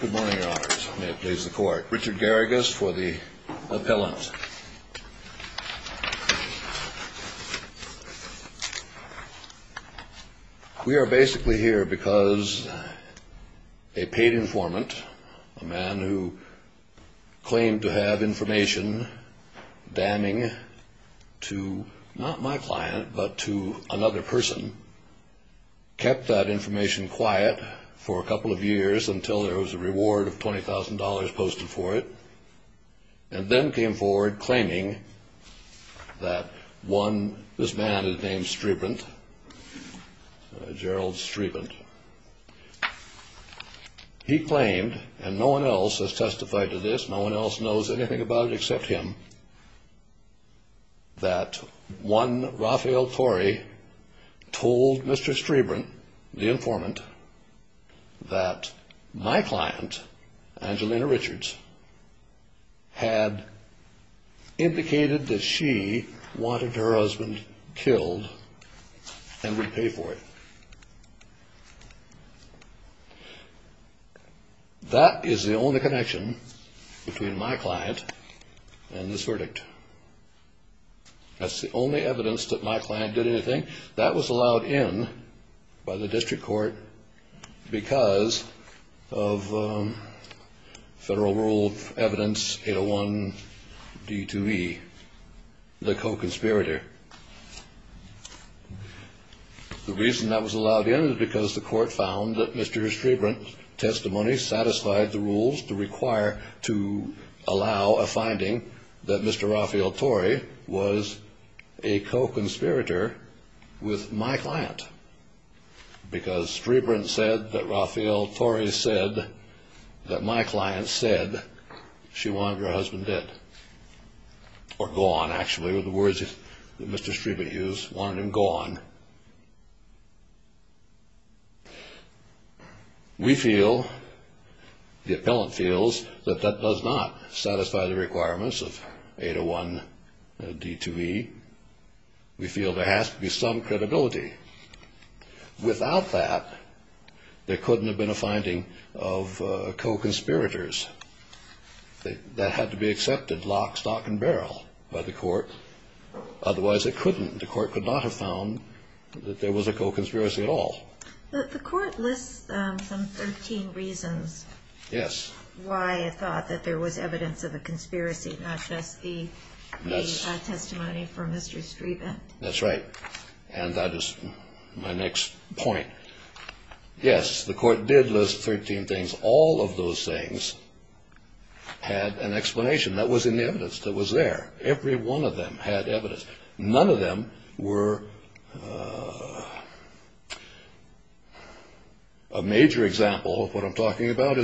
Good morning, your honors. May it please the court. Richard Garrigas for the appellant. We are basically here because a paid informant, a man who claimed to have information damning to not my client, but to another person, kept that information quiet for a couple of years until there was a reward of $20,000 posted for it, and then came forward claiming that one, this man named Strebent, Gerald Strebent, he claimed, and no one else has testified to this, no one else knows anything about it except him, that one Raphael Torrey told Mr. Strebent, the informant, that my client, Angelina Richards, had indicated that she wanted her husband killed and would pay for it. That is the only connection between my client and this verdict. That's the only evidence that my client did anything. That was allowed in by the district court because of federal rule of evidence 801D2E, the co-conspirator. The reason that was allowed in is because the court found that Mr. Strebent's testimony satisfied the rules to require, to allow a finding that Mr. Raphael Torrey was a co-conspirator with my client. Because Strebent said that Raphael Torrey said that my client said she wanted her husband dead, or gone, actually, were the words that Mr. Strebent used, wanted him gone. We feel, the appellant feels, that that does not satisfy the requirements of 801D2E. We feel there has to be some credibility. Without that, there couldn't have been a finding of co-conspirators. That had to be accepted lock, stock, and barrel by the court. Otherwise, it couldn't. The court could not have found that there was a co-conspiracy at all. But the court lists some 13 reasons why it thought that there was evidence of a conspiracy, not just the testimony from Mr. Strebent. That's right. And that is my next point. Yes, the court did list 13 things. All of those things had an explanation that was in the evidence that was there. Every one of them had evidence. None of them were a major example of what I'm talking about.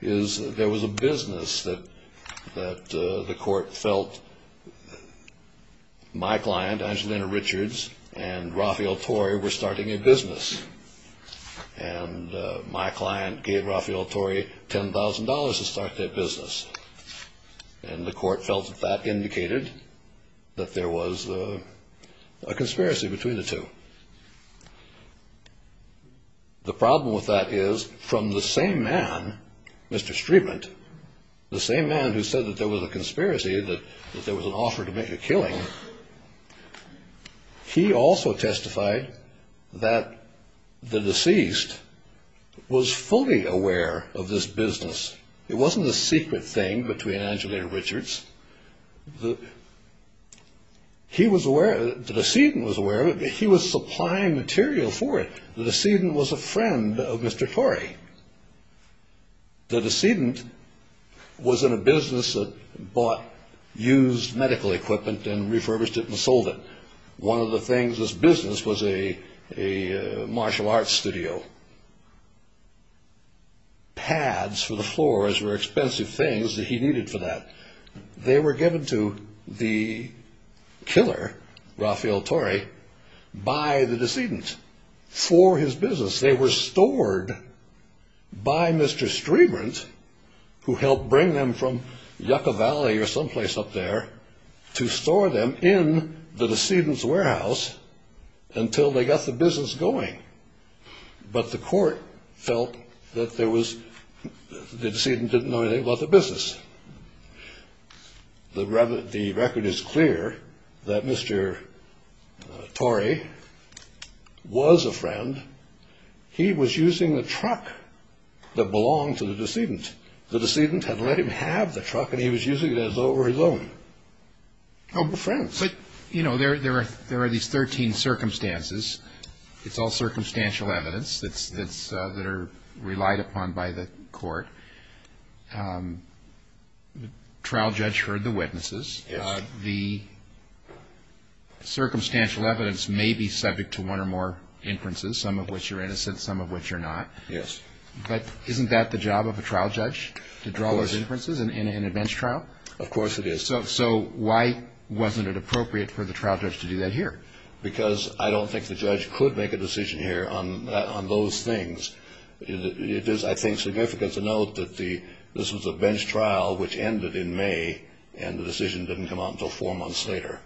There was a business that the court felt my client, Angelina Richards, and Raphael Torrey were starting a business. And my client gave Raphael Torrey $10,000 to start their business. And the court felt that that indicated that there was a conspiracy between the two. The problem with that is, from the same man, Mr. Strebent, the same man who said that there was a conspiracy, that there was an offer to make a killing, he also testified that the deceased was fully aware of this business. It wasn't a secret thing between Angelina Richards. The decedent was aware of it, but he was supplying material for it. The decedent was a friend of Mr. Torrey. The decedent was in a business that bought used medical equipment and refurbished it and sold it. One of the things in this business was a martial arts studio. Pads for the floors were expensive things that he needed for that. They were given to the killer, Raphael Torrey, by the decedent for his business. They were stored by Mr. Strebent, who helped bring them from Yucca Valley or someplace up there, to store them in the decedent's warehouse until they got the business going. But the court felt that the decedent didn't know anything about the business. The record is clear that Mr. Torrey was a friend. He was using the truck that belonged to the decedent. The decedent had let him have the truck, and he was using it as though it were his own. But, you know, there are these 13 circumstances. It's all circumstantial evidence that are relied upon by the court. The trial judge heard the witnesses. The circumstantial evidence may be subject to one or more inferences, some of which are innocent, some of which are not. Yes. But isn't that the job of a trial judge, to draw those inferences in a bench trial? Of course it is. So why wasn't it appropriate for the trial judge to do that here? Because I don't think the judge could make a decision here on those things. It is, I think, significant to note that this was a bench trial which ended in May, and the decision didn't come out until four months later.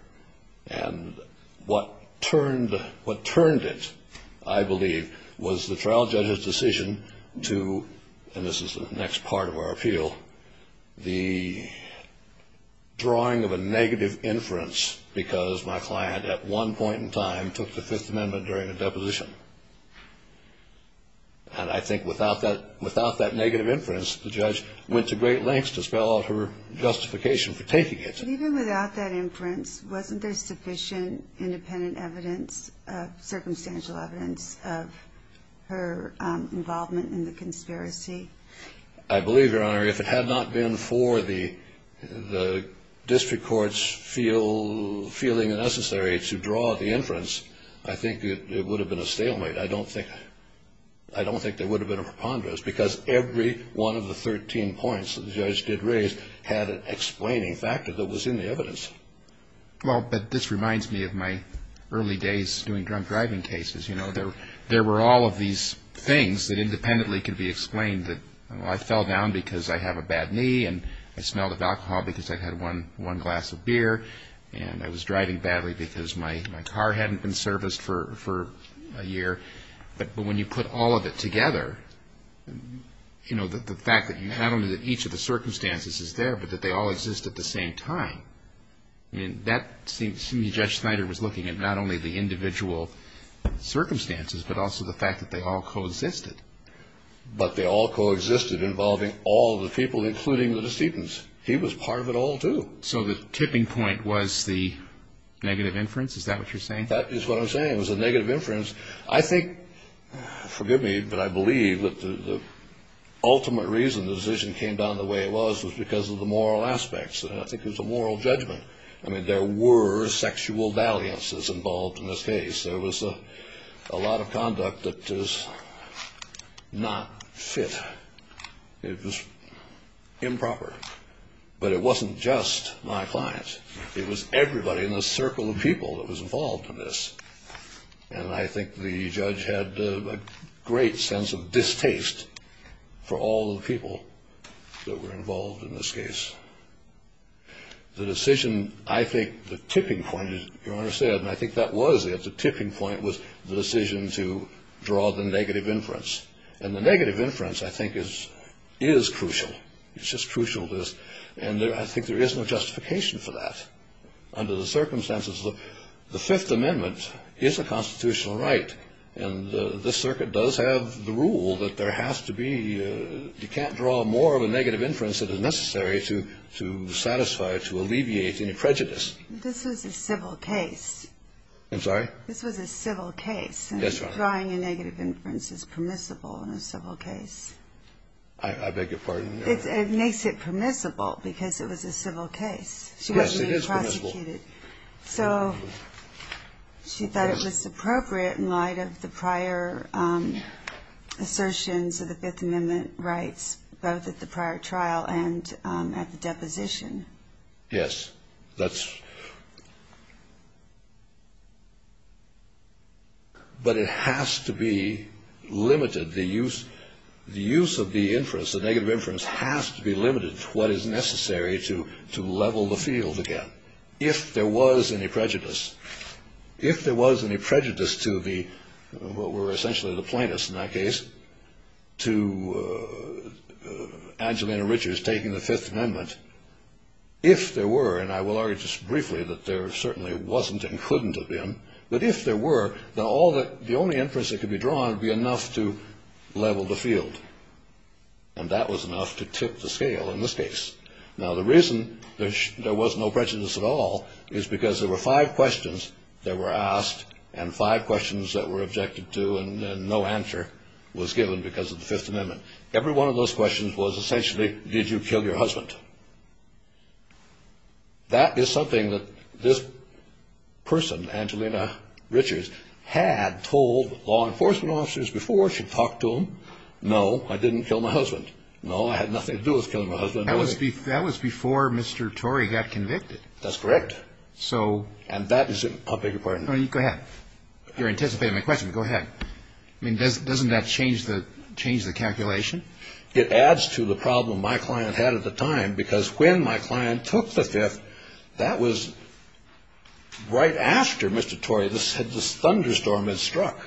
And what turned it, I believe, was the trial judge's decision to, and this is the next part of our appeal, the drawing of a negative inference because my client at one point in time took the Fifth Amendment during a deposition. And I think without that negative inference, the judge went to great lengths to spell out her justification for taking it. But even without that inference, wasn't there sufficient independent evidence, circumstantial evidence of her involvement in the conspiracy? I believe, Your Honor, if it had not been for the district courts feeling it necessary to draw the inference, I think it would have been a stalemate. I don't think there would have been a preponderance because every one of the 13 points that the judge did raise had an explaining factor that was in the evidence. Well, but this reminds me of my early days doing drunk driving cases. There were all of these things that independently could be explained that, well, I fell down because I have a bad knee, and I smelled of alcohol because I'd had one glass of beer, and I was driving badly because my car hadn't been serviced for a year. But when you put all of it together, the fact that not only that each of the circumstances is there but that they all exist at the same time, I mean, that seems to me Judge Snyder was looking at not only the individual circumstances but also the fact that they all coexisted. But they all coexisted involving all the people, including the decedents. He was part of it all, too. So the tipping point was the negative inference? Is that what you're saying? That is what I'm saying, was the negative inference. I think, forgive me, but I believe that the ultimate reason the decision came down the way it was was because of the moral aspects. I think it was a moral judgment. I mean, there were sexual dalliances involved in this case. There was a lot of conduct that is not fit. It was improper. But it wasn't just my clients. It was everybody in the circle of people that was involved in this. And I think the judge had a great sense of distaste for all the people that were involved in this case. The decision, I think the tipping point, you understand, and I think that was it, the tipping point was the decision to draw the negative inference. And the negative inference, I think, is crucial. It's just crucial. And I think there is no justification for that under the circumstances. The Fifth Amendment is a constitutional right. And the circuit does have the rule that there has to be, you can't draw more of a negative inference than is necessary to satisfy or to alleviate any prejudice. This was a civil case. I'm sorry? This was a civil case. Yes, Your Honor. Drawing a negative inference is permissible in a civil case. I beg your pardon? It makes it permissible because it was a civil case. Yes, it is permissible. So she thought it was appropriate in light of the prior assertions of the Fifth Amendment rights, both at the prior trial and at the deposition. Yes. But it has to be limited. The use of the inference, the negative inference, has to be limited to what is necessary to level the field again if there was any prejudice. If there was any prejudice to the, what were essentially the plaintiffs in that case, to Angelina Richards taking the Fifth Amendment, if there were, and I will argue just briefly that there certainly wasn't and couldn't have been, but if there were, then the only inference that could be drawn would be enough to level the field. And that was enough to tip the scale in this case. Now, the reason there was no prejudice at all is because there were five questions that were asked and five questions that were objected to and no answer was given because of the Fifth Amendment. Every one of those questions was essentially, did you kill your husband? That is something that this person, Angelina Richards, had told law enforcement officers before she talked to them, no, I didn't kill my husband, no, I had nothing to do with killing my husband. That was before Mr. Torrey got convicted. That's correct. So. And that is a bigger part. Go ahead. You're anticipating my question. Go ahead. I mean, doesn't that change the calculation? It adds to the problem my client had at the time because when my client took the Fifth, that was right after Mr. Torrey had this thunderstorm had struck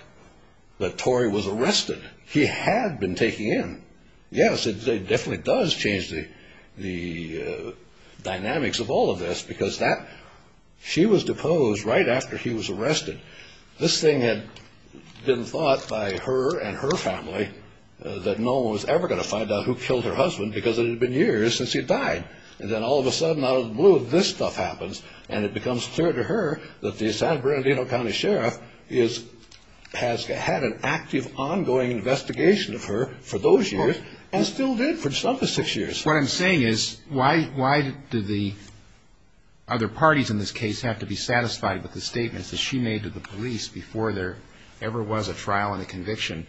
that Torrey was arrested. He had been taken in. Yes, it definitely does change the dynamics of all of this because she was deposed right after he was arrested. This thing had been thought by her and her family that no one was ever going to find out who killed her husband because it had been years since he died. And then all of a sudden, out of the blue, this stuff happens, and it becomes clear to her that the San Bernardino County Sheriff has had an active, ongoing investigation of her for those years and still did for some of the six years. What I'm saying is why do the other parties in this case have to be satisfied with the statements that she made to the police before there ever was a trial and a conviction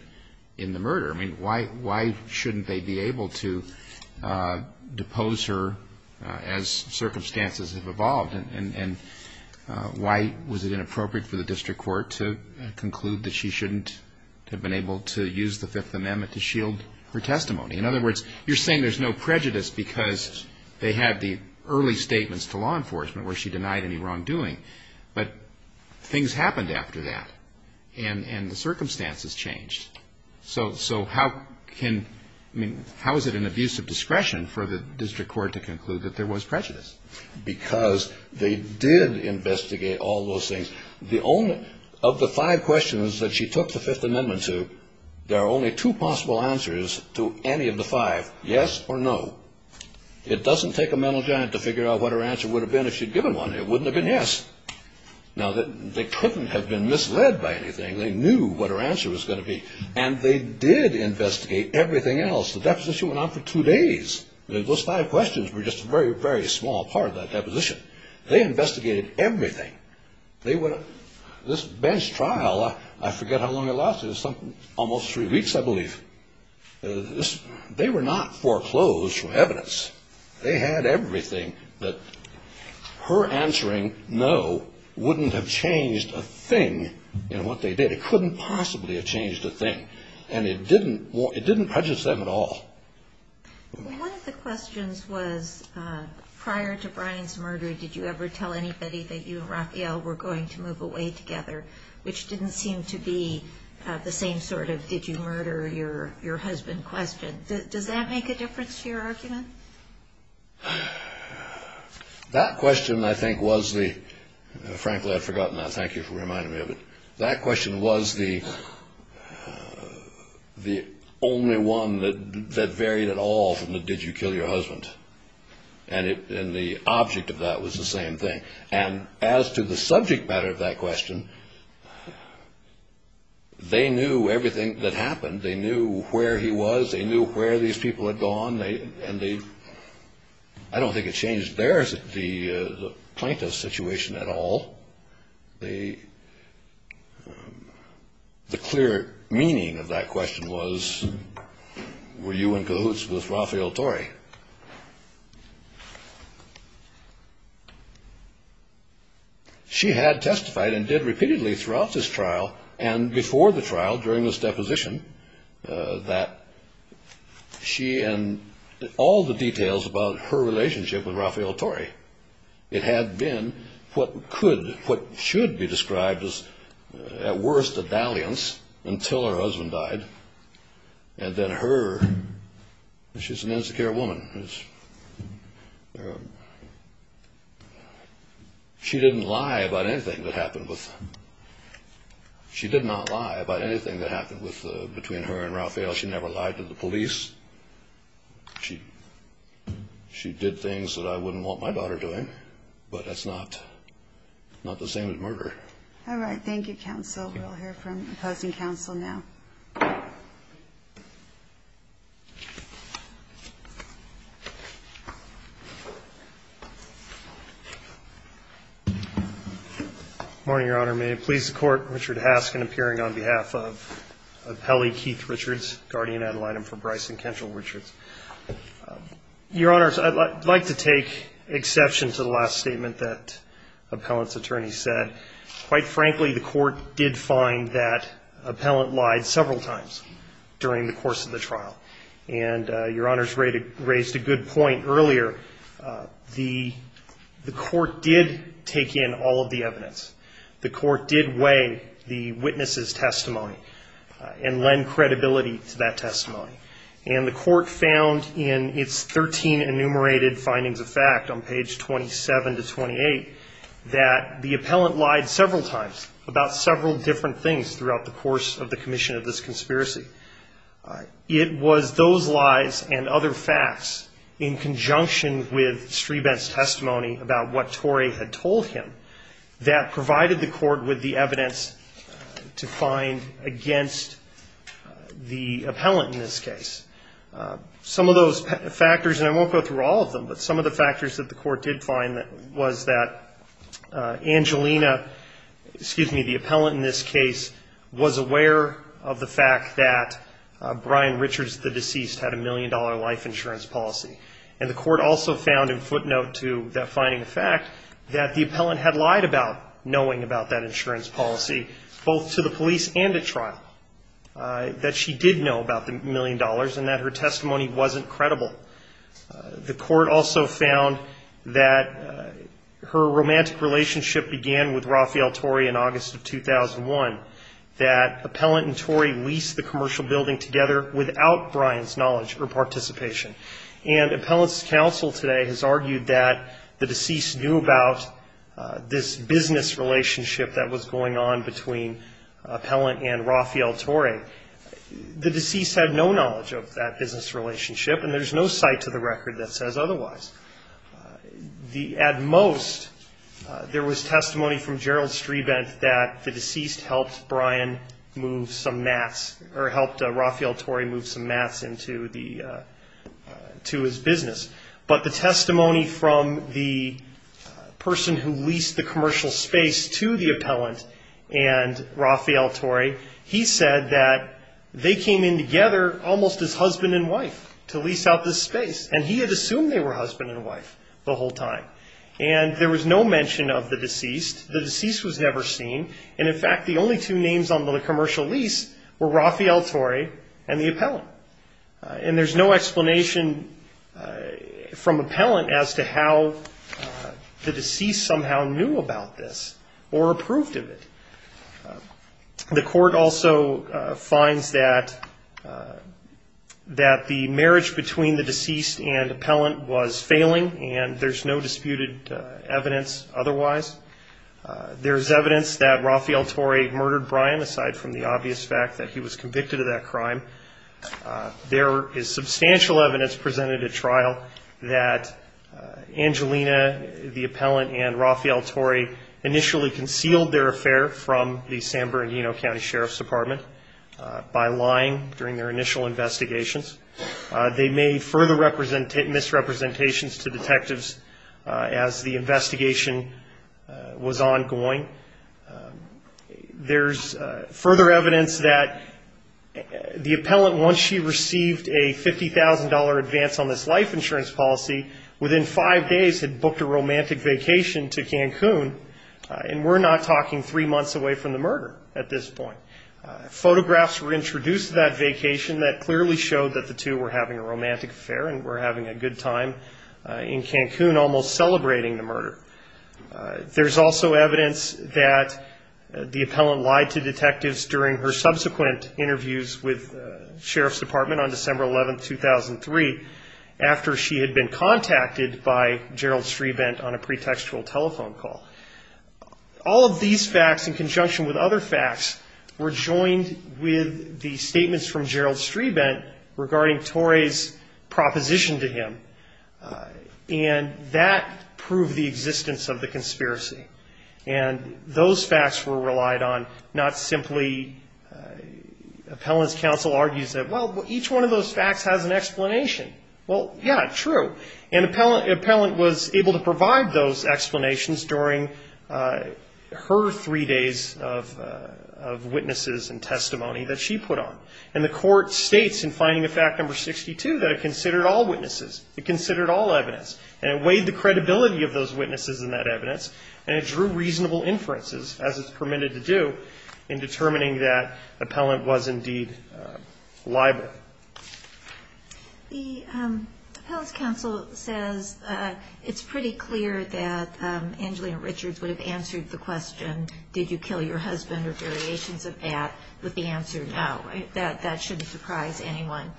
in the murder? I mean, why shouldn't they be able to depose her as circumstances have evolved? And why was it inappropriate for the district court to conclude that she shouldn't have been able to use the Fifth Amendment to shield her testimony? In other words, you're saying there's no prejudice because they had the early statements to law enforcement where she denied any wrongdoing, but things happened after that, and the circumstances changed. So how is it an abuse of discretion for the district court to conclude that there was prejudice? Because they did investigate all those things. Of the five questions that she took the Fifth Amendment to, there are only two possible answers to any of the five, yes or no. It doesn't take a mental giant to figure out what her answer would have been if she'd given one. It wouldn't have been yes. Now, they couldn't have been misled by anything. They knew what her answer was going to be, and they did investigate everything else. The deposition went on for two days. Those five questions were just a very, very small part of that deposition. They investigated everything. This bench trial, I forget how long it lasted. It was almost three weeks, I believe. They were not foreclosed from evidence. They had everything that her answering no wouldn't have changed a thing in what they did. It couldn't possibly have changed a thing, and it didn't prejudice them at all. Well, one of the questions was prior to Brian's murder, did you ever tell anybody that you and Raphael were going to move away together, which didn't seem to be the same sort of did-you-murder-your-husband question. Does that make a difference to your argument? That question, I think, was the – frankly, I'd forgotten that. Thank you for reminding me of it. That question was the only one that varied at all from the did-you-kill-your-husband, and the object of that was the same thing. And as to the subject matter of that question, they knew everything that happened. They knew where he was. They knew where these people had gone. And the – I don't think it changed theirs, the plaintiff's situation at all. The clear meaning of that question was, were you in cahoots with Raphael Torrey? She had testified and did repeatedly throughout this trial and before the trial during this deposition that she and – all the details about her relationship with Raphael Torrey, it had been what could – what should be described as at worst a dalliance until her husband died, and that her – she's an insecure woman. She didn't lie about anything that happened with – she did not lie about anything that happened with – between her and Raphael. She never lied to the police. She did things that I wouldn't want my daughter doing, but that's not the same as murder. All right. Thank you, counsel. We'll hear from opposing counsel now. Morning, Your Honor. May it please the Court, Richard Haskin appearing on behalf of appellee Keith Richards, guardian ad litem for Bryson Kendrell Richards. Your Honors, I'd like to take exception to the last statement that appellant's attorney said. Quite frankly, the court did find that appellant lied several times during the course of the trial, and Your Honors raised a good point earlier. The court did take in all of the evidence. The court did weigh the witness's testimony and lend credibility to that testimony, and the court found in its 13 enumerated findings of fact on page 27 to 28 that the appellant lied several times about several different things throughout the course of the commission of this conspiracy. It was those lies and other facts in conjunction with Strebent's testimony about what Torrey had told him that provided the court with the evidence to find against the appellant in this case. Some of those factors, and I won't go through all of them, but some of the factors that the court did find was that Angelina, excuse me, the appellant in this case was aware of the fact that Brian Richards, the deceased, had a million-dollar life insurance policy, and the court also found in footnote to that finding of fact that the appellant had lied about knowing about that insurance policy both to the police and at trial, that she did know about the million dollars and that her testimony wasn't credible. The court also found that her romantic relationship began with Rafael Torrey in August of 2001, that appellant and Torrey leased the commercial building together without Brian's knowledge or participation. And appellant's counsel today has argued that the deceased knew about this business relationship that was going on between appellant and Rafael Torrey. The deceased had no knowledge of that business relationship, and there's no cite to the record that says otherwise. At most, there was testimony from Gerald Strebent that the deceased helped Brian move some mats or helped Rafael Torrey move some mats into his business. But the testimony from the person who leased the commercial space to the appellant and Rafael Torrey, he said that they came in together almost as husband and wife to lease out this space, and he had assumed they were husband and wife the whole time. And there was no mention of the deceased. The deceased was never seen. And, in fact, the only two names on the commercial lease were Rafael Torrey and the appellant. And there's no explanation from appellant as to how the deceased somehow knew about this or approved of it. The court also finds that the marriage between the deceased and appellant was failing, and there's no disputed evidence otherwise. There's evidence that Rafael Torrey murdered Brian, aside from the obvious fact that he was convicted of that crime. There is substantial evidence presented at trial that Angelina, the appellant, and Rafael Torrey initially concealed their affair from the San Bernardino County Sheriff's Department by lying during their initial investigations. They made further misrepresentations to detectives as the investigation was ongoing. There's further evidence that the appellant, once she received a $50,000 advance on this life insurance policy, within five days had booked a romantic vacation to Cancun, and we're not talking three months away from the murder at this point. Photographs were introduced to that vacation that clearly showed that the two were having a romantic affair and were having a good time in Cancun, almost celebrating the murder. There's also evidence that the appellant lied to detectives during her subsequent interviews with the Sheriff's Department on December 11, 2003, after she had been contacted by Gerald Strebent on a pretextual telephone call. All of these facts, in conjunction with other facts, were joined with the statements from Gerald Strebent regarding Torrey's proposition to him, and that proved the existence of the conspiracy. And those facts were relied on, not simply appellant's counsel argues that, well, each one of those facts has an explanation. Well, yeah, true. And the appellant was able to provide those explanations during her three days of witnesses and testimony that she put on. And the court states in finding of fact number 62 that it considered all witnesses. It considered all evidence. And it weighed the credibility of those witnesses in that evidence, and it drew reasonable inferences, as it's permitted to do, in determining that the appellant was indeed liable. The appellant's counsel says it's pretty clear that Angelina Richards would have answered the question, did you kill your husband, or variations of that, with the answer no. That shouldn't surprise anyone.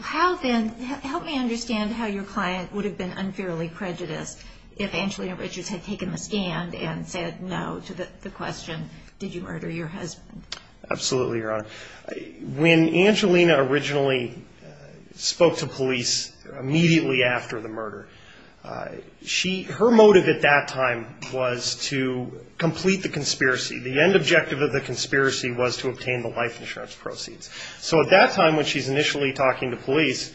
Help me understand how your client would have been unfairly prejudiced if Angelina Richards had taken the stand and said no to the question, did you murder your husband. Absolutely, Your Honor. When Angelina originally spoke to police immediately after the murder, her motive at that time was to complete the conspiracy. The end objective of the conspiracy was to obtain the life insurance proceeds. So at that time when she's initially talking to police,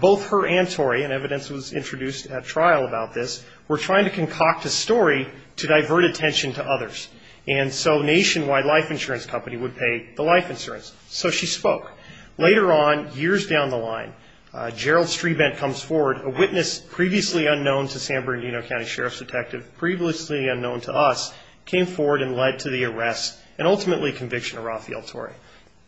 both her and Torrey, and evidence was introduced at trial about this, were trying to concoct a story to divert attention to others. And so Nationwide Life Insurance Company would pay the life insurance. So she spoke. Later on, years down the line, Gerald Strebent comes forward, a witness previously unknown to San Bernardino County Sheriff's Detective, previously unknown to us, came forward and led to the arrest, and ultimately conviction of Rafael Torrey.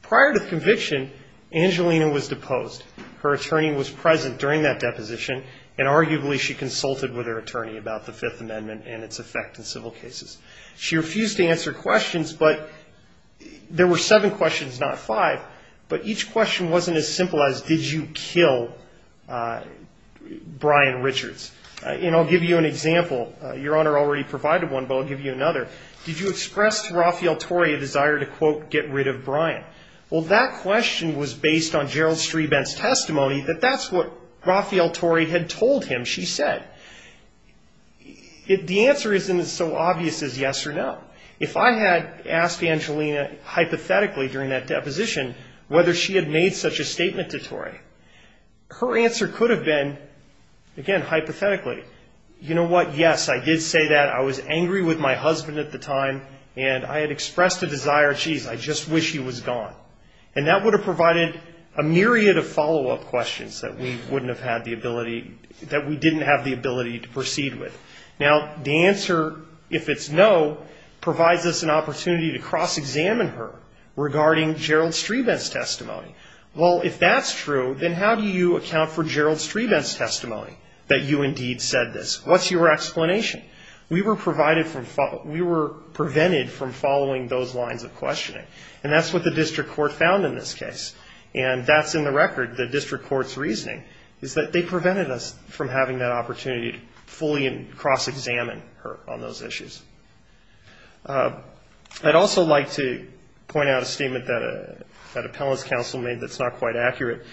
Prior to conviction, Angelina was deposed. Her attorney was present during that deposition, and arguably she consulted with her attorney about the Fifth Amendment and its effect in civil cases. She refused to answer questions, but there were seven questions, not five, but each question wasn't as simple as did you kill Brian Richards. And I'll give you an example. Your Honor already provided one, but I'll give you another. Did you express to Rafael Torrey a desire to, quote, get rid of Brian? Well, that question was based on Gerald Strebent's testimony that that's what Rafael Torrey had told him she said. The answer isn't so obvious as yes or no. If I had asked Angelina hypothetically during that deposition whether she had made such a statement to Torrey, her answer could have been, again, hypothetically, you know what, yes, I did say that. I was angry with my husband at the time, and I had expressed a desire, geez, I just wish he was gone. And that would have provided a myriad of follow-up questions that we wouldn't have had the ability, that we didn't have the ability to proceed with. Now, the answer, if it's no, provides us an opportunity to cross-examine her regarding Gerald Strebent's testimony. That you indeed said this. What's your explanation? We were prevented from following those lines of questioning, and that's what the district court found in this case. And that's, in the record, the district court's reasoning, is that they prevented us from having that opportunity to fully cross-examine her on those issues. I'd also like to point out a statement that a panelist counsel made that's not quite accurate.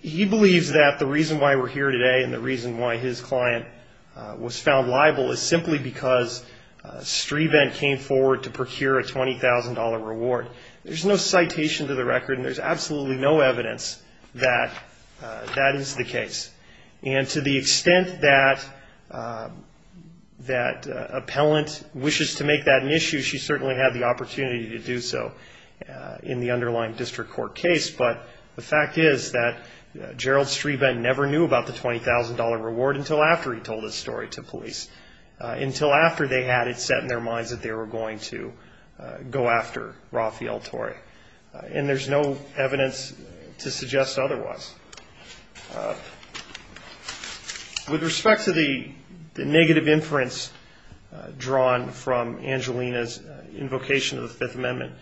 He believes that the reason why we're here today and the reason why his client was found liable is simply because Strebent came forward to procure a $20,000 reward. There's no citation to the record, and there's absolutely no evidence that that is the case. And to the extent that appellant wishes to make that an issue, she certainly had the opportunity to do so in the underlying district court case. But the fact is that Gerald Strebent never knew about the $20,000 reward until after he told his story to police. Until after they had it set in their minds that they were going to go after Rafael Torre. And there's no evidence to suggest otherwise. With respect to the negative inference drawn from Angelina's invocation of the Fifth Amendment,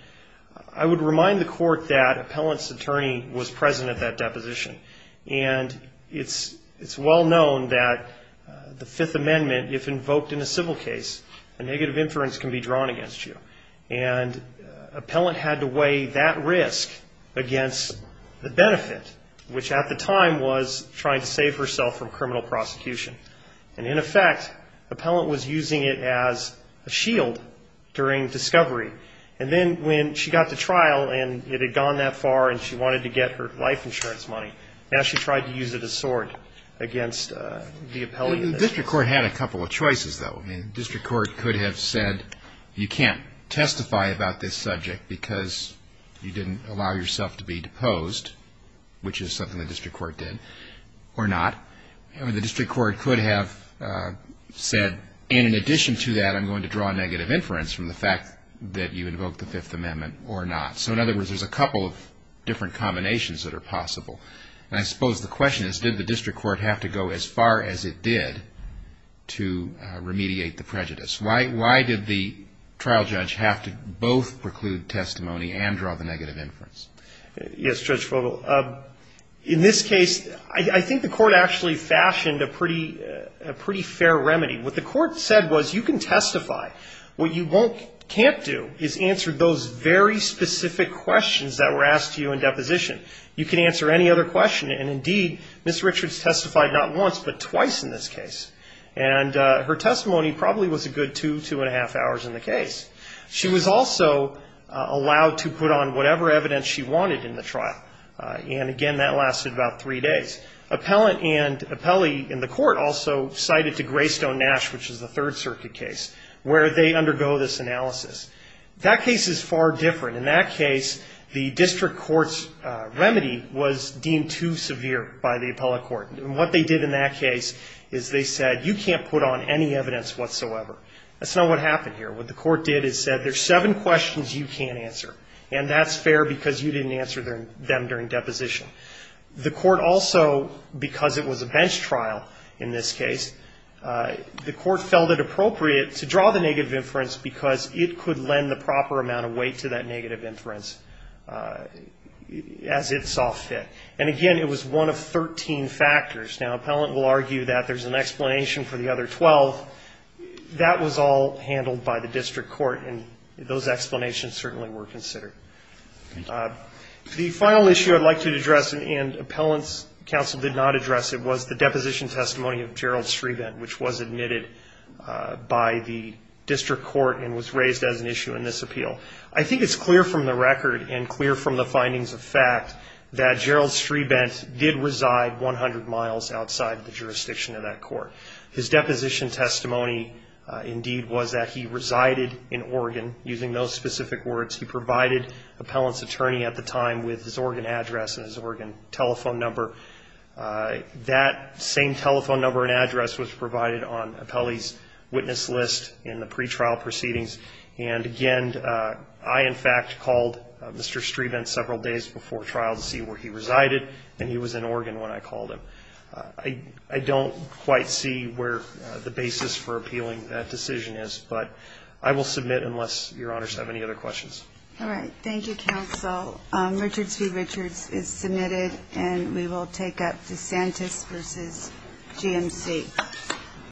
I would remind the court that appellant's attorney was present at that deposition. And it's well known that the Fifth Amendment, if invoked in a civil case, a negative inference can be drawn against you. And appellant had to weigh that risk against the benefit, which at the time was trying to save herself from criminal prosecution. And in effect, appellant was using it as a shield during discovery. And then when she got to trial and it had gone that far and she wanted to get her life insurance money, now she tried to use it as a sword against the appellant. The district court had a couple of choices, though. The district court could have said, you can't testify about this subject because you didn't allow yourself to be deposed, which is something the district court did, or not. The district court could have said, and in addition to that I'm going to draw a negative inference from the fact that you invoked the Fifth Amendment or not. So in other words, there's a couple of different combinations that are possible. And I suppose the question is, did the district court have to go as far as it did to remediate the prejudice? Why did the trial judge have to both preclude testimony and draw the negative inference? Yes, Judge Fogle. In this case, I think the court actually fashioned a pretty fair remedy. What the court said was, you can testify. What you can't do is answer those very specific questions that were asked to you in deposition. You can answer any other question, and indeed Ms. Richards testified not once but twice in this case. And her testimony probably was a good two, two and a half hours in the case. She was also allowed to put on whatever evidence she wanted in the trial. And again, that lasted about three days. Appellant and appellee in the court also cited to Greystone Nash, which is the Third Circuit case, where they undergo this analysis. That case is far different. In that case, the district court's remedy was deemed too severe by the appellate court. And what they did in that case is they said, you can't put on any evidence whatsoever. That's not what happened here. What the court did is said, there's seven questions you can't answer, and that's fair because you didn't answer them during deposition. The court also, because it was a bench trial in this case, the court felt it appropriate to draw the negative inference because it could lend the proper amount of weight to that negative inference as it saw fit. And again, it was one of 13 factors. Now, appellant will argue that there's an explanation for the other 12. That was all handled by the district court, and those explanations certainly were considered. The final issue I'd like to address, and appellant's counsel did not address it, was the deposition testimony of Gerald Strebent, which was admitted by the district court and was raised as an issue in this appeal. I think it's clear from the record and clear from the findings of fact that Gerald Strebent did reside 100 miles outside the jurisdiction of that court. His deposition testimony, indeed, was that he resided in Oregon. Using those specific words, he provided appellant's attorney at the time with his Oregon address and his Oregon telephone number. That same telephone number and address was provided on appellee's witness list in the pretrial proceedings. And again, I, in fact, called Mr. Strebent several days before trial to see where he resided, and he was in Oregon when I called him. I don't quite see where the basis for appealing that decision is, but I will submit unless Your Honors have any other questions. All right. Thank you, counsel. Richards v. Richards is submitted, and we will take up DeSantis v. GMC.